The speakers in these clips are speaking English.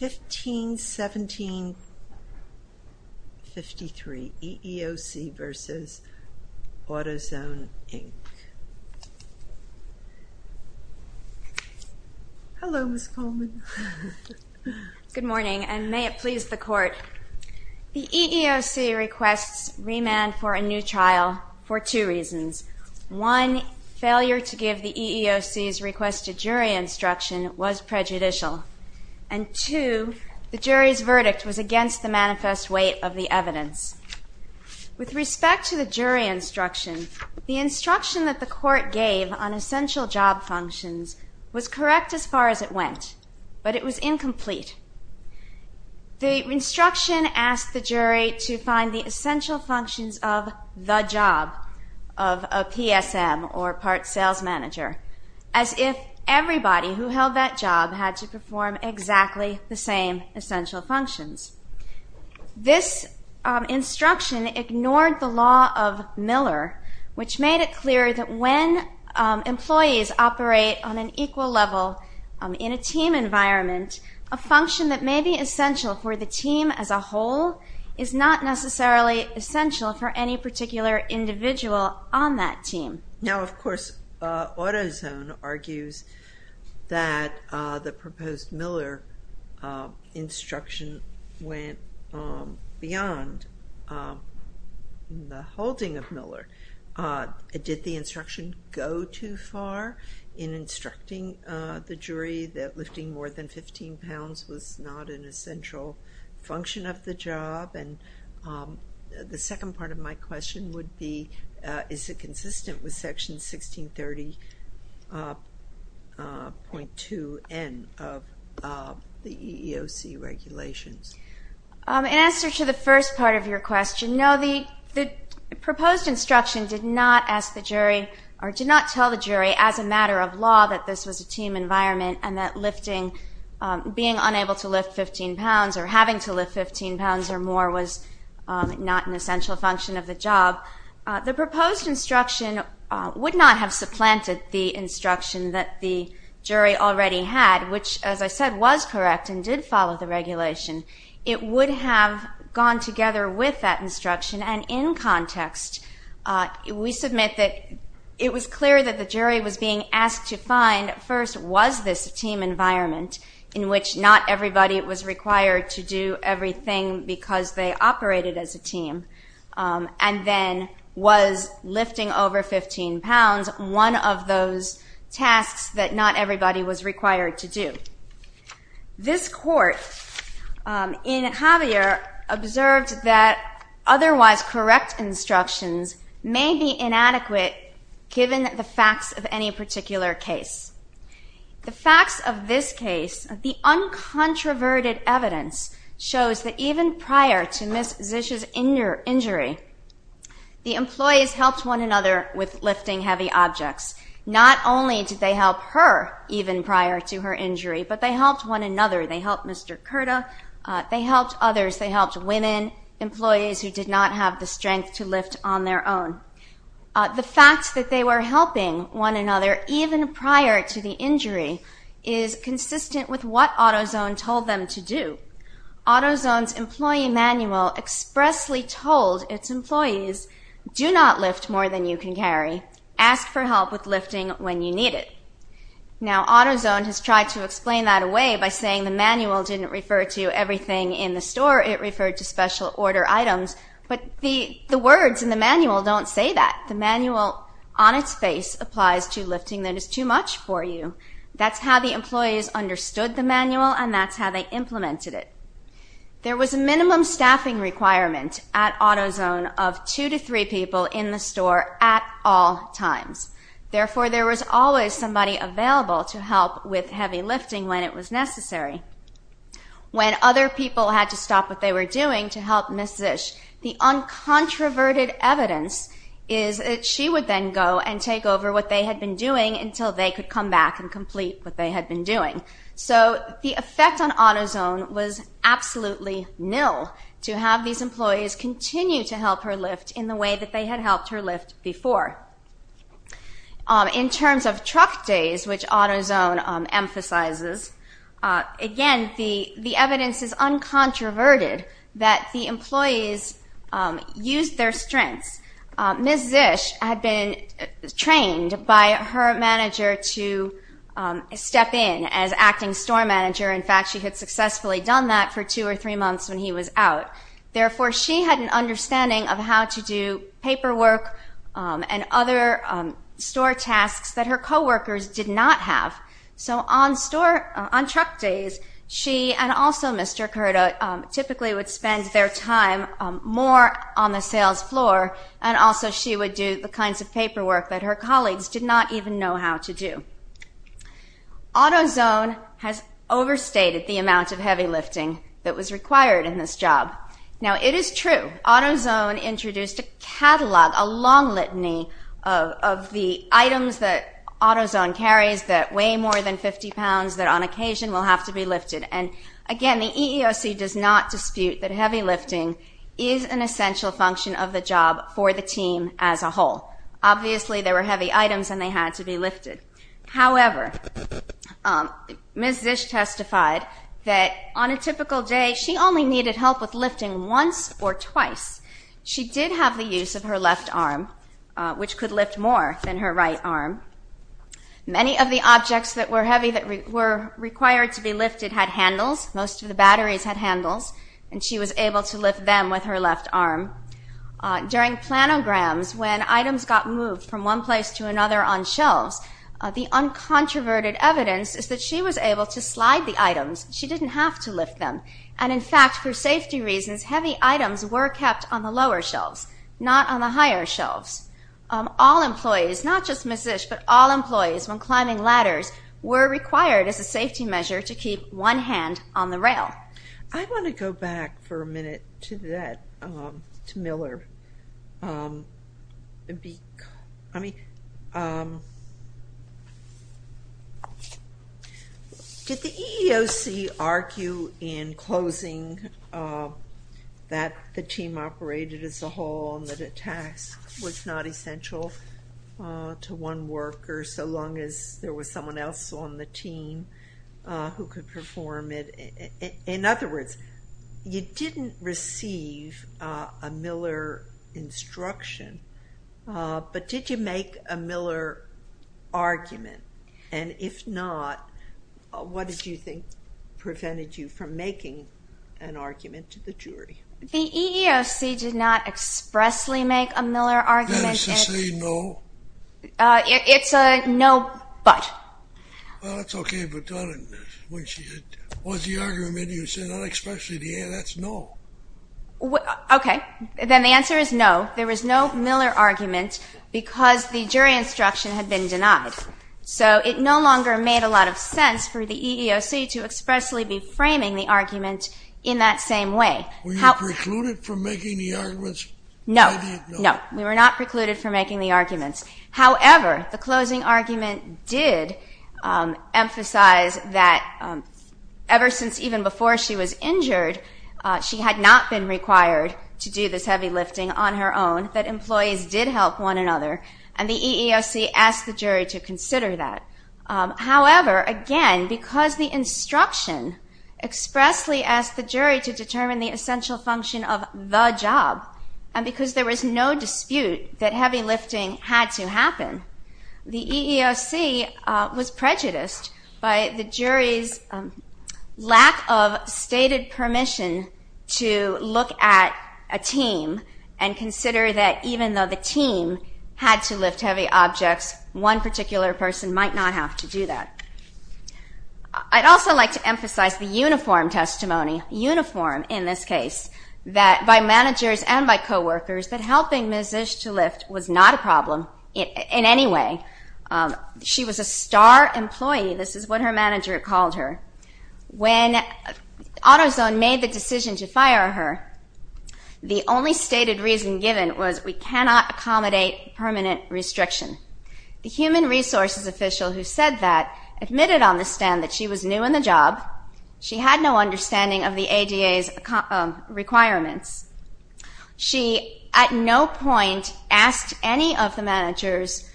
15-17-53 EEOC v. AutoZone, Inc. Hello Ms. Coleman. Good morning and may it please the Court. The EEOC requests remand for a new trial for two reasons. One, failure to give the EEOC's requested jury instruction was prejudicial. And two, the jury's verdict was against the manifest weight of the evidence. With respect to the jury instruction, the instruction that the Court gave on essential job functions was correct as far as it went, but it was incomplete. The instruction asked the jury to find the everybody who held that job had to perform exactly the same essential functions. This instruction ignored the law of Miller, which made it clear that when employees operate on an equal level in a team environment, a function that may be essential for the team as a whole is not necessarily essential for any particular individual on that team. Now of course, AutoZone argues that the proposed Miller instruction went beyond the holding of Miller. Did the instruction go too far in instructing the jury that lifting more than 15 pounds was not an essential function of the job? And the second part of my question would be, is it consistent with Section 1630.2N of the EEOC regulations? In answer to the first part of your question, no, the proposed instruction did not ask the jury or did not tell the jury as a matter of law that this was a team environment and that being unable to lift 15 pounds or having to lift 15 pounds or more was not an essential function of the job. The proposed instruction would not have supplanted the instruction that the jury already had, which as I said was correct and did follow the regulation. It would have gone together with that instruction and in context we submit that it was clear that the jury was being asked to find first was this team environment in which not everybody was required to do everything because they operated as a team and then was lifting over 15 pounds one of those tasks that not everybody was required to do. This court in Javier observed that otherwise correct instructions may be inadequate given the facts of any particular case. The facts of this case, the uncontroverted evidence shows that even prior to Ms. Zisch's injury, the employees helped one another with lifting heavy objects. Not only did they help her even prior to her injury, but they helped one another. They helped Mr. Curta, they helped others, they helped women, employees who did not have the strength to lift on their own. The fact that they were helping one another even prior to the injury is consistent with what AutoZone told them to do. AutoZone's employee manual expressly told its employees, do not lift more than you can carry. Ask for help with lifting when you need it. Now AutoZone has tried to explain that away by saying the manual didn't refer to everything in the store, it referred to special order items, but the words in the manual don't say that. The manual on its face applies to lifting that is too much for you. That's how the employees understood the manual and that's how they implemented it. There was a minimum staffing requirement at AutoZone of two to three people in the store at all times. Therefore there was always somebody available to help with heavy lifting when it was necessary. When other people had to stop what they were doing to help Ms. Zisch, the uncontroverted evidence is that she would then go and take over what they had been doing until they could come back and complete what they had been doing. So the effect on AutoZone was absolutely nil to have these employees continue to help her lift in the way that they had helped her lift before. In terms of truck days, which AutoZone emphasizes, again the evidence is uncontroverted that the employees used their strengths. Ms. Zisch had been trained by her manager to step in as acting store manager. In fact she had successfully done that for two or three months when he was out. Therefore she had an understanding of how to do paperwork and other store tasks that her co-workers did not have. So on truck days she and also Mr. Curta typically would spend their time more on the sales floor and also she would do the kinds of paperwork that her colleagues did not even know how to do. AutoZone has overstated the amount of heavy lifting that was required in this job. Now it is true AutoZone introduced a catalog, a long litany of the items that AutoZone carries that weigh more than 50 pounds that on occasion will have to be lifted. And again the EEOC does not dispute that heavy lifting is an essential function of the job for the team as a whole. Obviously there were heavy items and they had to be lifted. However, Ms. Zisch testified that on a typical day she only needed help with lifting once or twice. She did have the use of her left arm, which could lift more than her right arm. Many of the objects that were heavy that were required to be lifted had handles. Most of the batteries had handles and she was able to lift them with her left arm. During planograms when items got moved from one place to another on shelves, the uncontroverted evidence is that she was able to slide the items. She didn't have to lift them. And in fact for safety reasons, heavy items were kept on the lower shelves, not on the higher shelves. All employees, not just Ms. Zisch, but all employees when climbing ladders were required as a safety measure to keep one hand on the rail. I want to go back for a minute to that, to Miller. Did the EEOC argue in closing that the team operated as a whole and that a task was not essential to one worker so long as there was someone else on the team who could perform it? In other words, you didn't receive a Miller instruction, but did you make a Miller argument? And if not, what did you think prevented you from making an argument to the jury? The EEOC did not expressly make a Miller argument. That is to say, no? It's a no, but. Well, that's okay, but was the argument you said not expressly, that's no. Okay, then the answer is no. There was no Miller argument because the jury instruction had been denied. So it no longer made a lot of sense for the EEOC to expressly be framing the argument in that same way. Were you precluded from making the arguments? No, we were not precluded from making the arguments. However, the closing argument did emphasize that ever since even before she was injured, she had not been required to do this heavy lifting on her own, that employees did help one another, and the EEOC asked the jury to consider that. However, again, because the instruction expressly asked the jury to do the essential function of the job, and because there was no dispute that heavy lifting had to happen, the EEOC was prejudiced by the jury's lack of stated permission to look at a team and consider that even though the team had to lift heavy objects, one particular person might not have to do that. I'd also like to emphasize the uniform testimony, uniform in this case, that by managers and by co-workers that helping Ms. Ish to lift was not a problem in any way. She was a star employee, this is what her manager called her. When AutoZone made the decision to fire her, the only stated reason given was we cannot accommodate permanent restriction. The human resources official who said that admitted on the stand that she was new in the job, she had no understanding of the ADA's requirements, she at no point asked any of the managers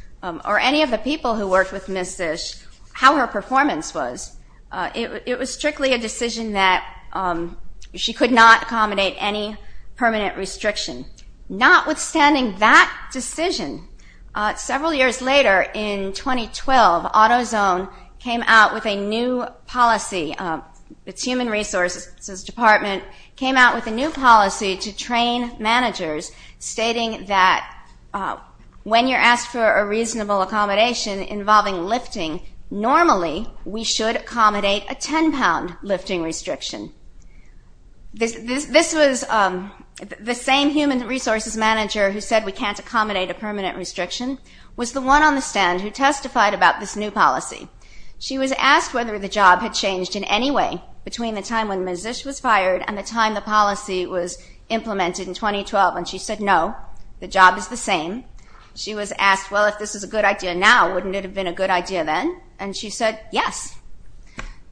or any of the people who worked with Ms. Ish how her performance was. It was strictly a decision that she could not accommodate any permanent restriction. Not withstanding that decision, several years later in 2012 AutoZone came out with a new policy, its human resources department came out with a new policy to train managers stating that when you're asked for a reasonable accommodation involving lifting, normally we should accommodate a 10-pound lifting restriction. This was the same human resources manager who said we can't accommodate a permanent restriction was the one on the stand who testified about this new policy. She was asked whether the job had changed in any way between the time when Ms. Ish was fired and the time the policy was implemented in 2012 and she said no, the job is the same. She was asked well if this is a good idea now wouldn't it have been a good idea then and she said yes.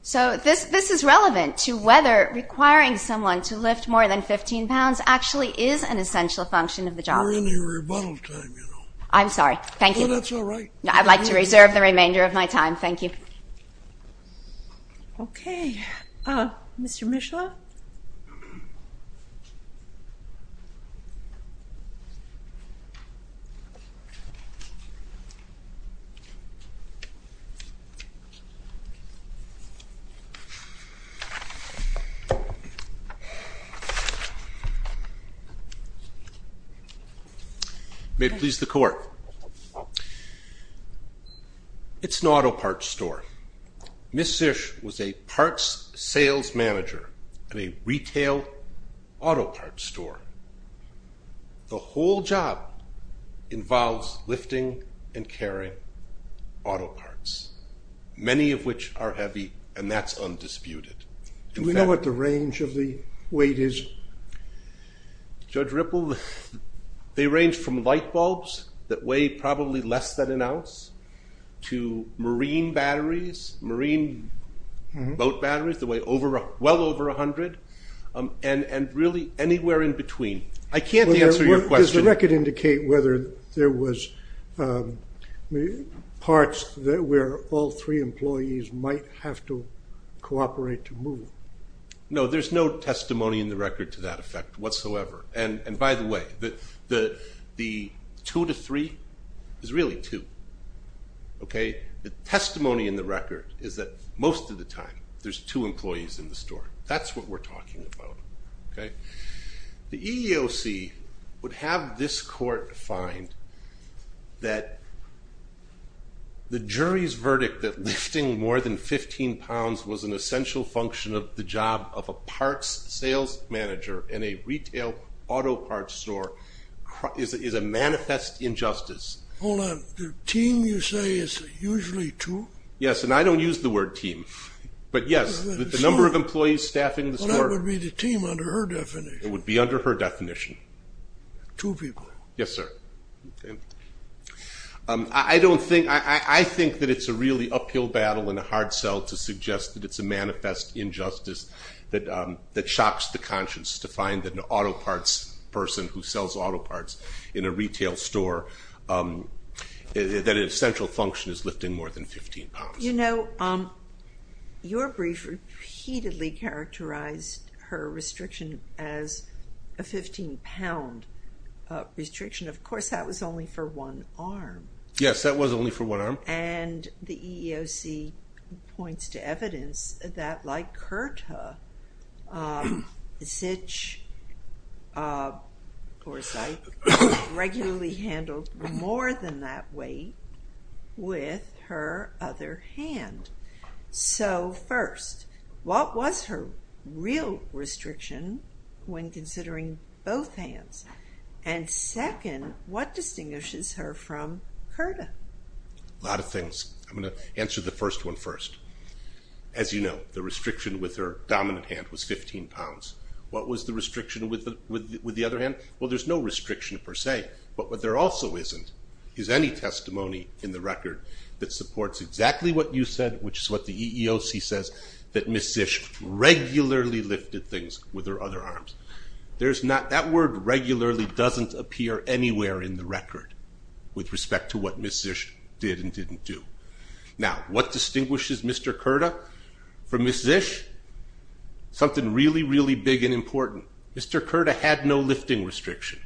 So this is relevant to whether requiring someone to lift more than 15 pounds actually is an essential function of the job. We're in a rebuttal time you know. I'm sorry, thank you. That's all right. I'd like to reserve the remainder of my time, thank you. Okay, Mr. Mishlaw. May it please the court. It's an auto parts store. Ms. Ish was a parts sales manager at a retail auto parts store. The whole job involves lifting and carrying auto parts many of which are heavy and that's undisputed. Do we know what the range of the weight is? Judge Ripple, they range from light bulbs that weigh probably less than an ounce to marine batteries, marine boat batteries the way over a well over a hundred and and really anywhere in between. I can't answer your question. Does the record indicate whether there was parts that where all three employees might have to cooperate to move? No, there's no testimony in the record to that effect whatsoever and by the way that the two to three is really two. Okay, the testimony in the record is that most of the time there's two employees in the store. That's what we're talking about. Okay, the EEOC would have this court find that the jury's verdict that lifting more than 15 pounds was an essential function of the job of a parts sales manager in a retail auto parts store is a manifest injustice. Hold on, the team you say is usually two? Yes, and I don't use the word team but yes the number of employees staffing the her definition. Two people? Yes sir. I don't think, I think that it's a really uphill battle in a hard sell to suggest that it's a manifest injustice that shocks the conscience to find that an auto parts person who sells auto parts in a retail store that an essential function is lifting more than 15 pounds. You know your brief repeatedly characterized her restriction as a 15-pound restriction. Of course, that was only for one arm. Yes, that was only for one arm. And the EEOC points to evidence that like Curta, Zitsch, Gorsuch regularly handled more than that weight with her other hand. So first, what was her real restriction when considering both hands? And second, what distinguishes her from Curta? A lot of things. I'm gonna answer the first one first. As you know, the restriction with her dominant hand was 15 pounds. What was the restriction with the other hand? Well there's no restriction per se, but what there also isn't is any testimony in the record that supports exactly what you said, which is what the EEOC says, that Ms. Zitsch regularly lifted things with her other arms. There's not, that word regularly doesn't appear anywhere in the record with respect to what Ms. Zitsch did and didn't do. Now what distinguishes Mr. Curta from Ms. Zitsch? Something really, really big and important. Mr. Curta had no lifting restriction.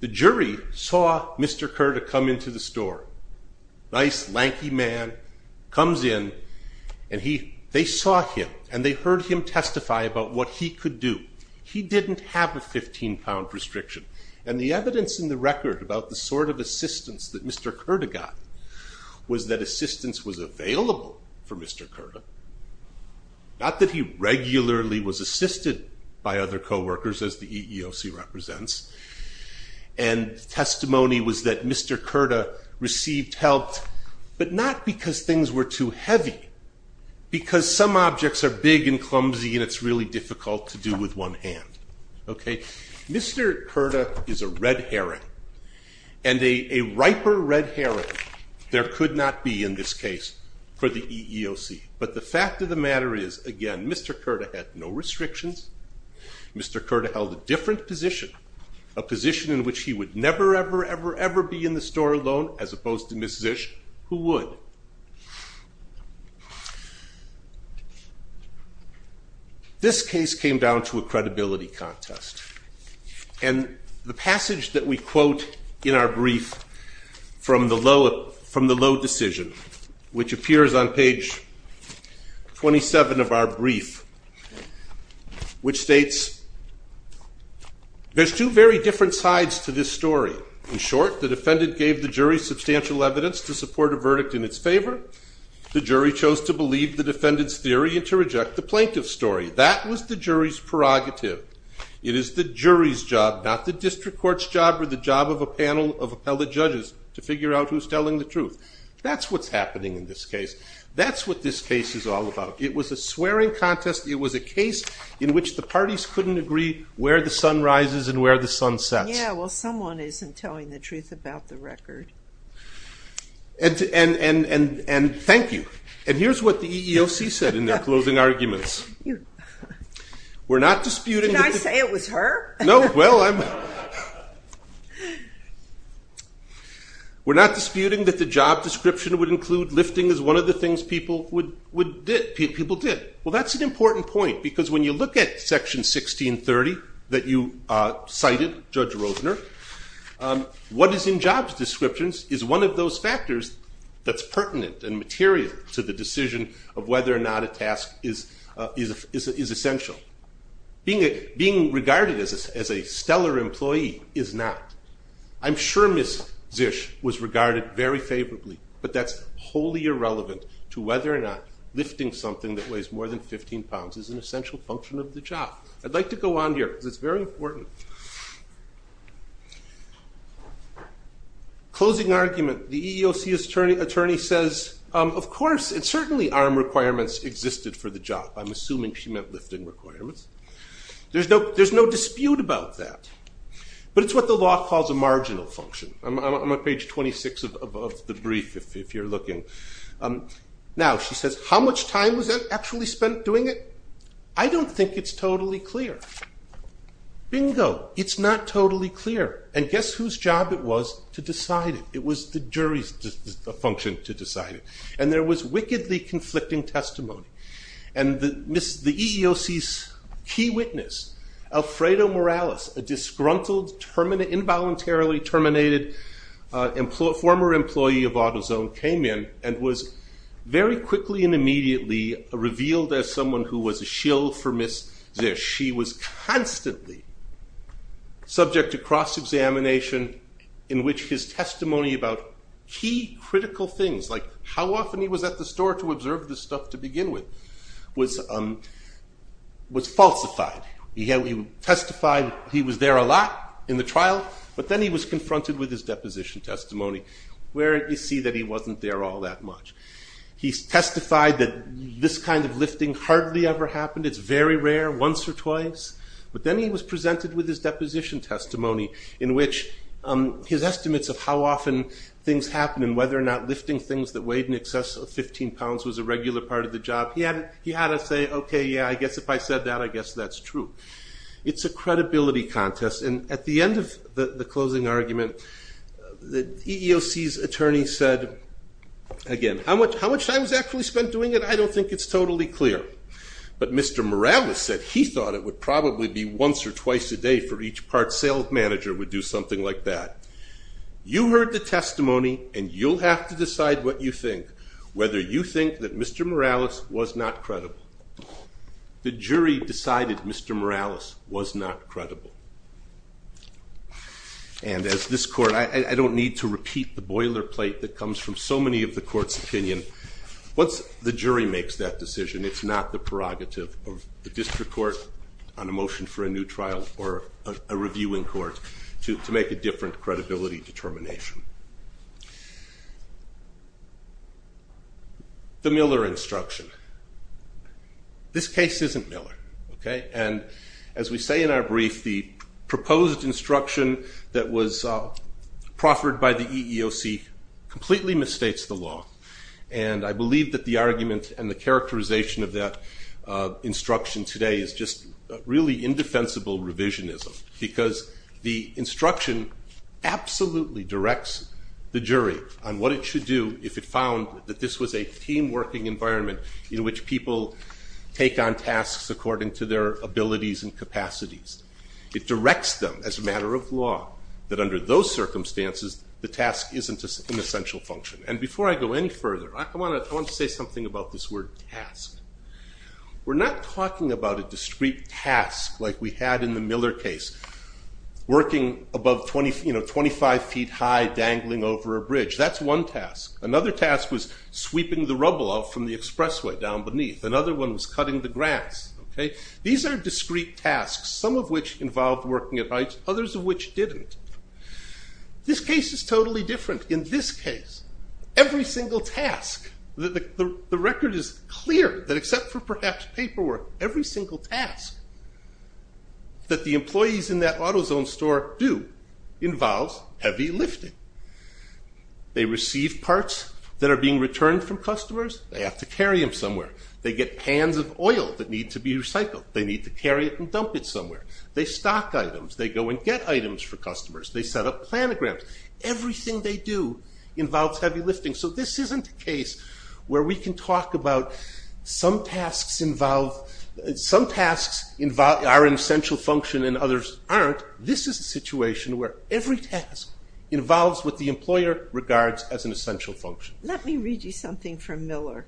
The jury saw Mr. Curta come into the store. Nice, lanky man comes in and they saw him and they heard him testify about what he could do. He didn't have a 15 pound restriction and the evidence in the record about the sort of assistance that Mr. Curta got was that assistance was available for Mr. Curta, which the EEOC represents, and testimony was that Mr. Curta received help, but not because things were too heavy, because some objects are big and clumsy and it's really difficult to do with one hand. Okay, Mr. Curta is a red herring and a riper red herring there could not be in this case for the EEOC, but the fact of the matter is, again, Mr. Curta had no restrictions. Mr. Curta held a different position, a position in which he would never, ever, ever, ever be in the store alone, as opposed to Ms. Zitsch, who would. This case came down to a credibility contest and the passage that we quote in our brief from the low decision, which appears on page 27 of our brief, which states, there's two very different sides to this story. In short, the defendant gave the jury substantial evidence to support a verdict in its favor. The jury chose to believe the defendant's theory and to reject the plaintiff's story. That was the jury's prerogative. It is the jury's job, not the district court's job or the job of a That's what's happening in this case. That's what this case is all about. It was a swearing contest. It was a case in which the parties couldn't agree where the sun rises and where the sun sets. Yeah, well someone isn't telling the truth about the record. And thank you. And here's what the EEOC said in their closing arguments. We're not disputing... Did I say it was her? No, well, we're not discription would include lifting as one of the things people did. Well, that's an important point because when you look at section 1630 that you cited, Judge Rosener, what is in jobs descriptions is one of those factors that's pertinent and material to the decision of whether or not a task is essential. Being regarded as a stellar employee is not. I'm sure Zish was regarded very favorably, but that's wholly irrelevant to whether or not lifting something that weighs more than 15 pounds is an essential function of the job. I'd like to go on here because it's very important. Closing argument, the EEOC attorney says, of course, and certainly arm requirements existed for the job. I'm assuming she meant lifting requirements. There's no dispute about that, but it's what the law calls a marginal function. I'm on page 26 of the brief, if you're looking. Now, she says, how much time was actually spent doing it? I don't think it's totally clear. Bingo, it's not totally clear. And guess whose job it was to decide it. It was the jury's function to decide it. And there was wickedly conflicting testimony. And the EEOC's key witness, Alfredo Morales, a disgruntled, involuntarily terminated former employee of AutoZone came in and was very quickly and immediately revealed as someone who was a shill for Ms. Zish. She was constantly subject to cross-examination in which his testimony about key critical things, like how often he was at the store to observe this stuff to begin with, was falsified. He testified he was there a lot in the trial, but then he was confronted with his deposition testimony where you see that he wasn't there all that much. He testified that this kind of lifting hardly ever happened. It's very rare, once or twice. But then he was presented with his deposition testimony in which his estimates of how often things happen and whether or not lifting things that weighed in excess of 15 pounds was a lie. He had to say, okay, yeah, I guess if I said that, I guess that's true. It's a credibility contest. And at the end of the closing argument, the EEOC's attorney said, again, how much time was actually spent doing it? I don't think it's totally clear. But Mr. Morales said he thought it would probably be once or twice a day for each part sales manager would do something like that. You heard the testimony and you'll have to decide what you think, whether you agree or not. Mr. Morales was not credible. The jury decided Mr. Morales was not credible. And as this court, I don't need to repeat the boilerplate that comes from so many of the court's opinion. Once the jury makes that decision, it's not the prerogative of the district court on a motion for a new trial or a reviewing court to make a different credibility determination. The Miller instruction. This case isn't Miller. And as we say in our brief, the proposed instruction that was proffered by the EEOC completely misstates the law. And I believe that the argument and the characterization of that instruction today is just really indefensible revisionism. Because the instruction absolutely directs the jury on what it should do if it found that this was a team working environment in which people take on tasks according to their abilities and capacities. It directs them as a matter of law that under those circumstances the task isn't an essential function. And before I go any further, I want to say something about this word task. We're not talking about a discrete task like we had in the Miller case. Working above 25 feet high, dangling over a bridge. That's one task. Another task was sweeping the rubble out from the expressway down beneath. Another one was cutting the grass. These are discrete tasks, some of which involved working at heights, others of which didn't. This case is totally different. In this case, the record is clear that except for perhaps paperwork, every single task that the employees in that AutoZone store do involves heavy lifting. They receive parts that are being returned from customers. They have to carry them somewhere. They get pans of oil that need to be recycled. They need to carry it and dump it somewhere. They stock items. They go and get items for customers. They set up planograms. Everything they do involves heavy lifting. So this isn't a talk about some tasks are an essential function and others aren't. This is a situation where every task involves what the employer regards as an essential function. Let me read you something from Miller.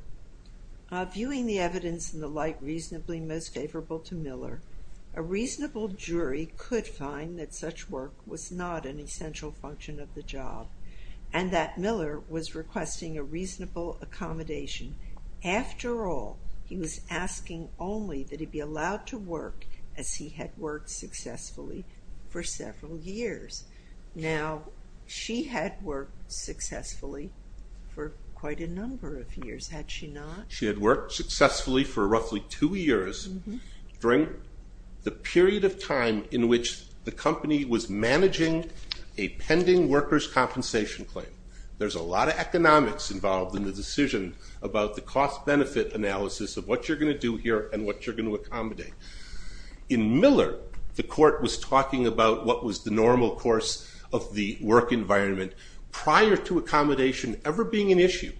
Viewing the evidence and the like reasonably most favorable to Miller, a reasonable jury could find that such work was not an essential function of the job and that Miller was requesting a After all, he was asking only that he be allowed to work as he had worked successfully for several years. Now she had worked successfully for quite a number of years, had she not? She had worked successfully for roughly two years during the period of time in which the company was managing a pending workers' compensation claim. There's a lot of economics involved in the decision about the cost-benefit analysis of what you're going to do here and what you're going to accommodate. In Miller, the court was talking about what was the normal course of the work environment prior to accommodation ever being an issue.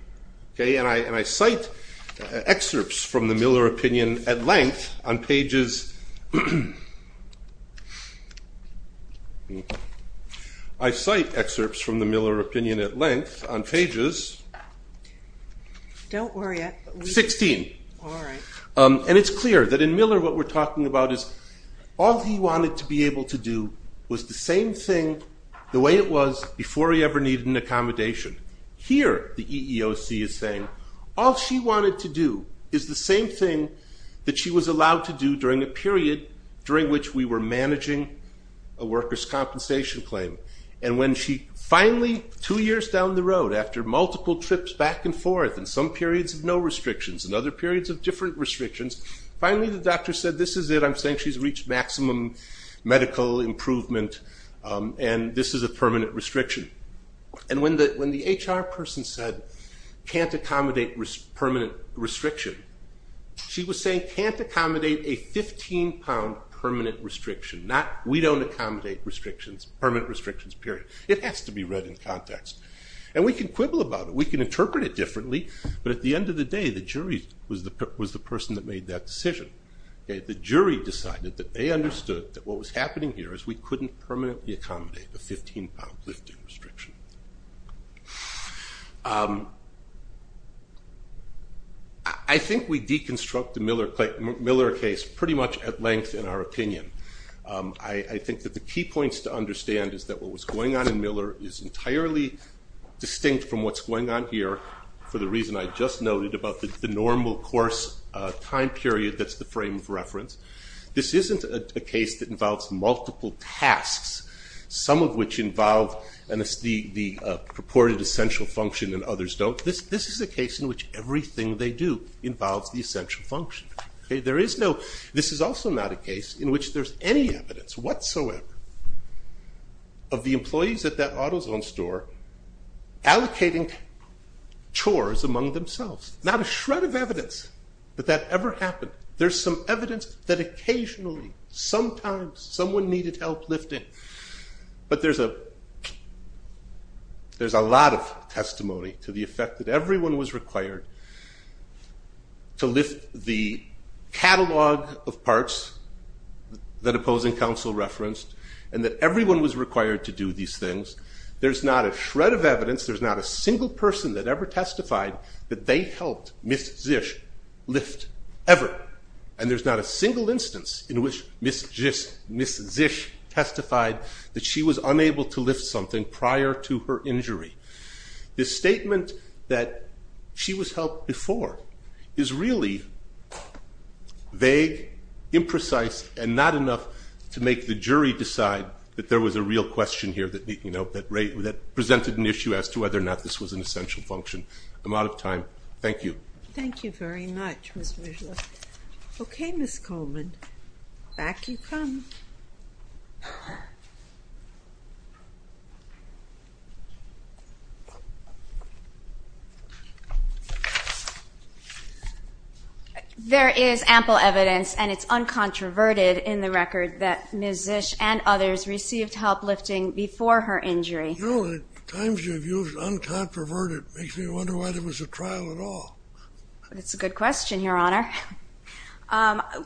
And I cite excerpts from the Miller opinion at length on pages, I cite 16. And it's clear that in Miller what we're talking about is all he wanted to be able to do was the same thing the way it was before he ever needed an accommodation. Here the EEOC is saying all she wanted to do is the same thing that she was allowed to do during the period during which we were managing a workers' compensation claim. And when she finally, two years down the road, after multiple trips back and forth and some periods of no restrictions and other periods of different restrictions, finally the doctor said this is it. I'm saying she's reached maximum medical improvement and this is a permanent restriction. And when the HR person said can't accommodate permanent restriction, she was saying can't accommodate a 15-pound permanent restriction. We don't accommodate restrictions, permanent restrictions, period. It has to be read in context. And we can quibble about it, we can interpret it differently, but at the end of the day the jury was the person that made that decision. The jury decided that they understood that what was happening here is we couldn't permanently accommodate a 15-pound lifting restriction. I think we deconstruct the Miller case pretty much at length in our opinion. I think that the key points to understand is that what was going on in Miller is entirely distinct from what's going on here for the reason I just noted about the normal course time period that's the frame of reference. This isn't a case that involves multiple tasks, some of which involve the purported essential function and others don't. This is a case in which everything they do involves the essential function. This is also not a case in which there's any evidence whatsoever of the employees at that AutoZone store allocating chores among themselves. Not a shred of evidence that that ever happened. There's some evidence that occasionally, sometimes, someone needed help lifting, but there's a lot of catalog of parts that opposing counsel referenced and that everyone was required to do these things. There's not a shred of evidence, there's not a single person that ever testified that they helped Ms. Zisch lift ever and there's not a single instance in which Ms. Zisch testified that she was unable to lift something prior to her injury. This statement that she was helped before is really vague, imprecise, and not enough to make the jury decide that there was a real question here that presented an issue as to whether or not this was an essential function. I'm out of time. Thank you. Thank you very much, Ms. Wiesler. Okay, Ms. Coleman, back you come. There is ample evidence and it's uncontroverted in the record that Ms. Zisch and others received help lifting before her injury. No, the times you've used uncontroverted makes me wonder why there was a trial at all. That's a good question, Your Honor.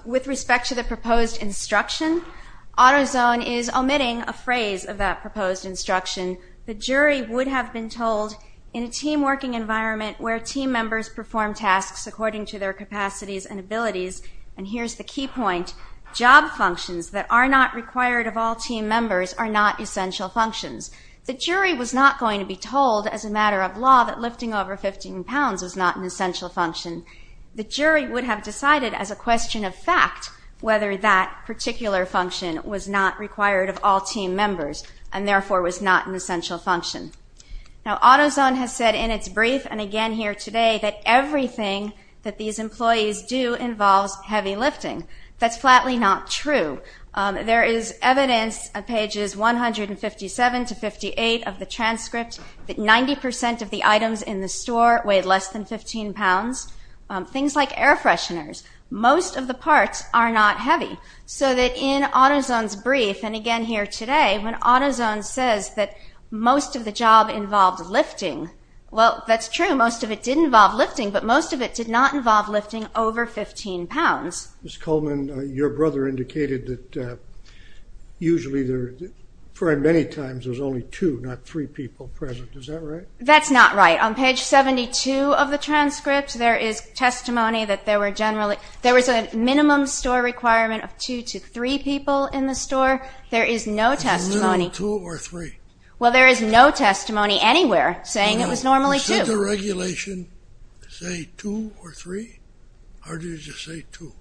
With respect to the proposed instruction, AutoZone is omitting a phrase of that proposed instruction. The jury would have been told in a team environment where team members perform tasks according to their capacities and abilities, and here's the key point, job functions that are not required of all team members are not essential functions. The jury was not going to be told as a matter of law that lifting over 15 pounds is not an essential function. The jury would have decided as a question of fact whether that particular function was not required of all team members and therefore was not an essential function. Now AutoZone has said in its brief and again here today that everything that these employees do involves heavy lifting. That's flatly not true. There is evidence on pages 157 to 58 of the transcript that 90% of the items in the store weighed less than 15 pounds. Things like air fresheners, most of the parts are not heavy. So that in AutoZone's brief and again here today when AutoZone says that most of the job involved lifting, well that's true. Most of it did involve lifting, but most of it did not involve lifting over 15 pounds. Ms. Coleman, your brother indicated that usually there are very many times there's only two, not three people present. Is that right? That's not right. On page 72 of the transcript there is testimony that there were generally, there was a minimum store requirement of two to three people in the store. There is no testimony. It's a minimum of two or three. Well there is no testimony anywhere saying it was normally two. You said the regulation say two or three? Or did it just say two?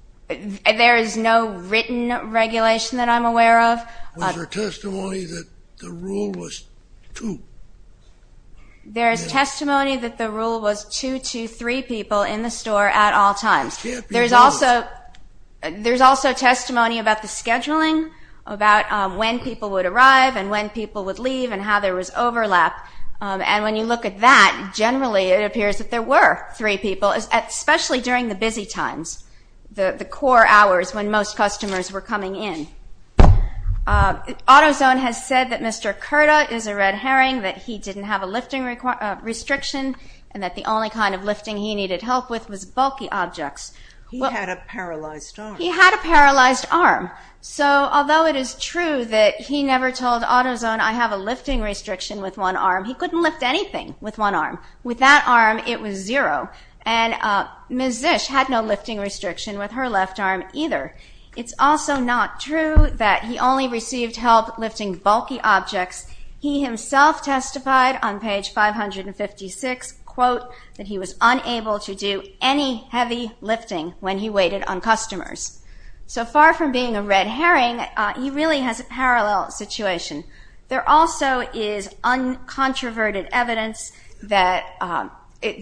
There is no written regulation that I'm aware of. Was there testimony that the rule was two? There is testimony that the rule was two to three people in the store at all times. There is also testimony about the scheduling, about when people would arrive and when people would leave and how there was overlap. And when you look at that, generally it appears that there were three people, especially during the busy times, the core hours when most customers were coming in. AutoZone has said that Mr. Kerta is a red herring, that he didn't have a lifting restriction, and that the only kind of lifting he needed help with was bulky objects. He had a paralyzed arm. He had a paralyzed arm. So although it is true that he never told AutoZone I have a lifting restriction with one arm, he couldn't lift anything with one arm. With that arm it was zero. And Ms. Zisch had no lifting restriction with her left arm either. It's also not true that he only received help lifting bulky objects. He himself testified on page 556, quote, that he was unable to do any heavy lifting when he waited on customers. So far from being a red herring, he really has a parallel situation. There also is uncontroverted evidence that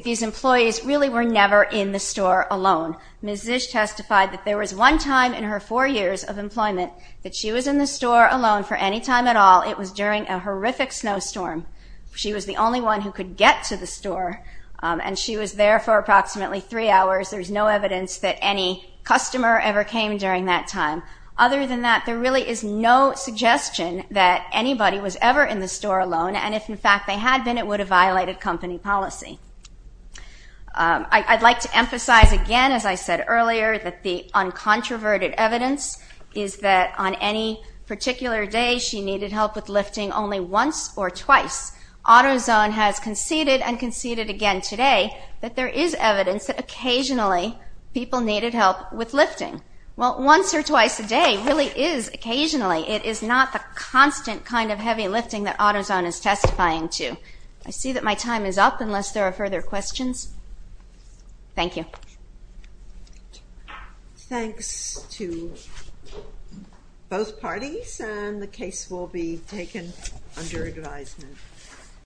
these employees really were never in the store alone. Ms. Zisch testified that there was one time in her four years of employment that she was in the store alone for any time at all. It was during a horrific snowstorm. She was the only one who could get to the store, and she was there for approximately three hours. There's no evidence that any customer ever came during that time. Other than that, there really is no suggestion that anybody was ever in the store alone. And if, in fact, they had been, it would have violated company policy. I'd like to emphasize again, as I said earlier, that the uncontroverted evidence is that on any particular day she needed help with lifting only once or twice. AutoZone has conceded and conceded again today that there is evidence that occasionally people needed help with lifting. Well, once or twice a day really is occasionally. It is not the constant kind of heavy lifting that AutoZone is testifying to. I see that my time is up unless there are further questions. Thank you. Thanks to both parties, and the case will be taken under advisement.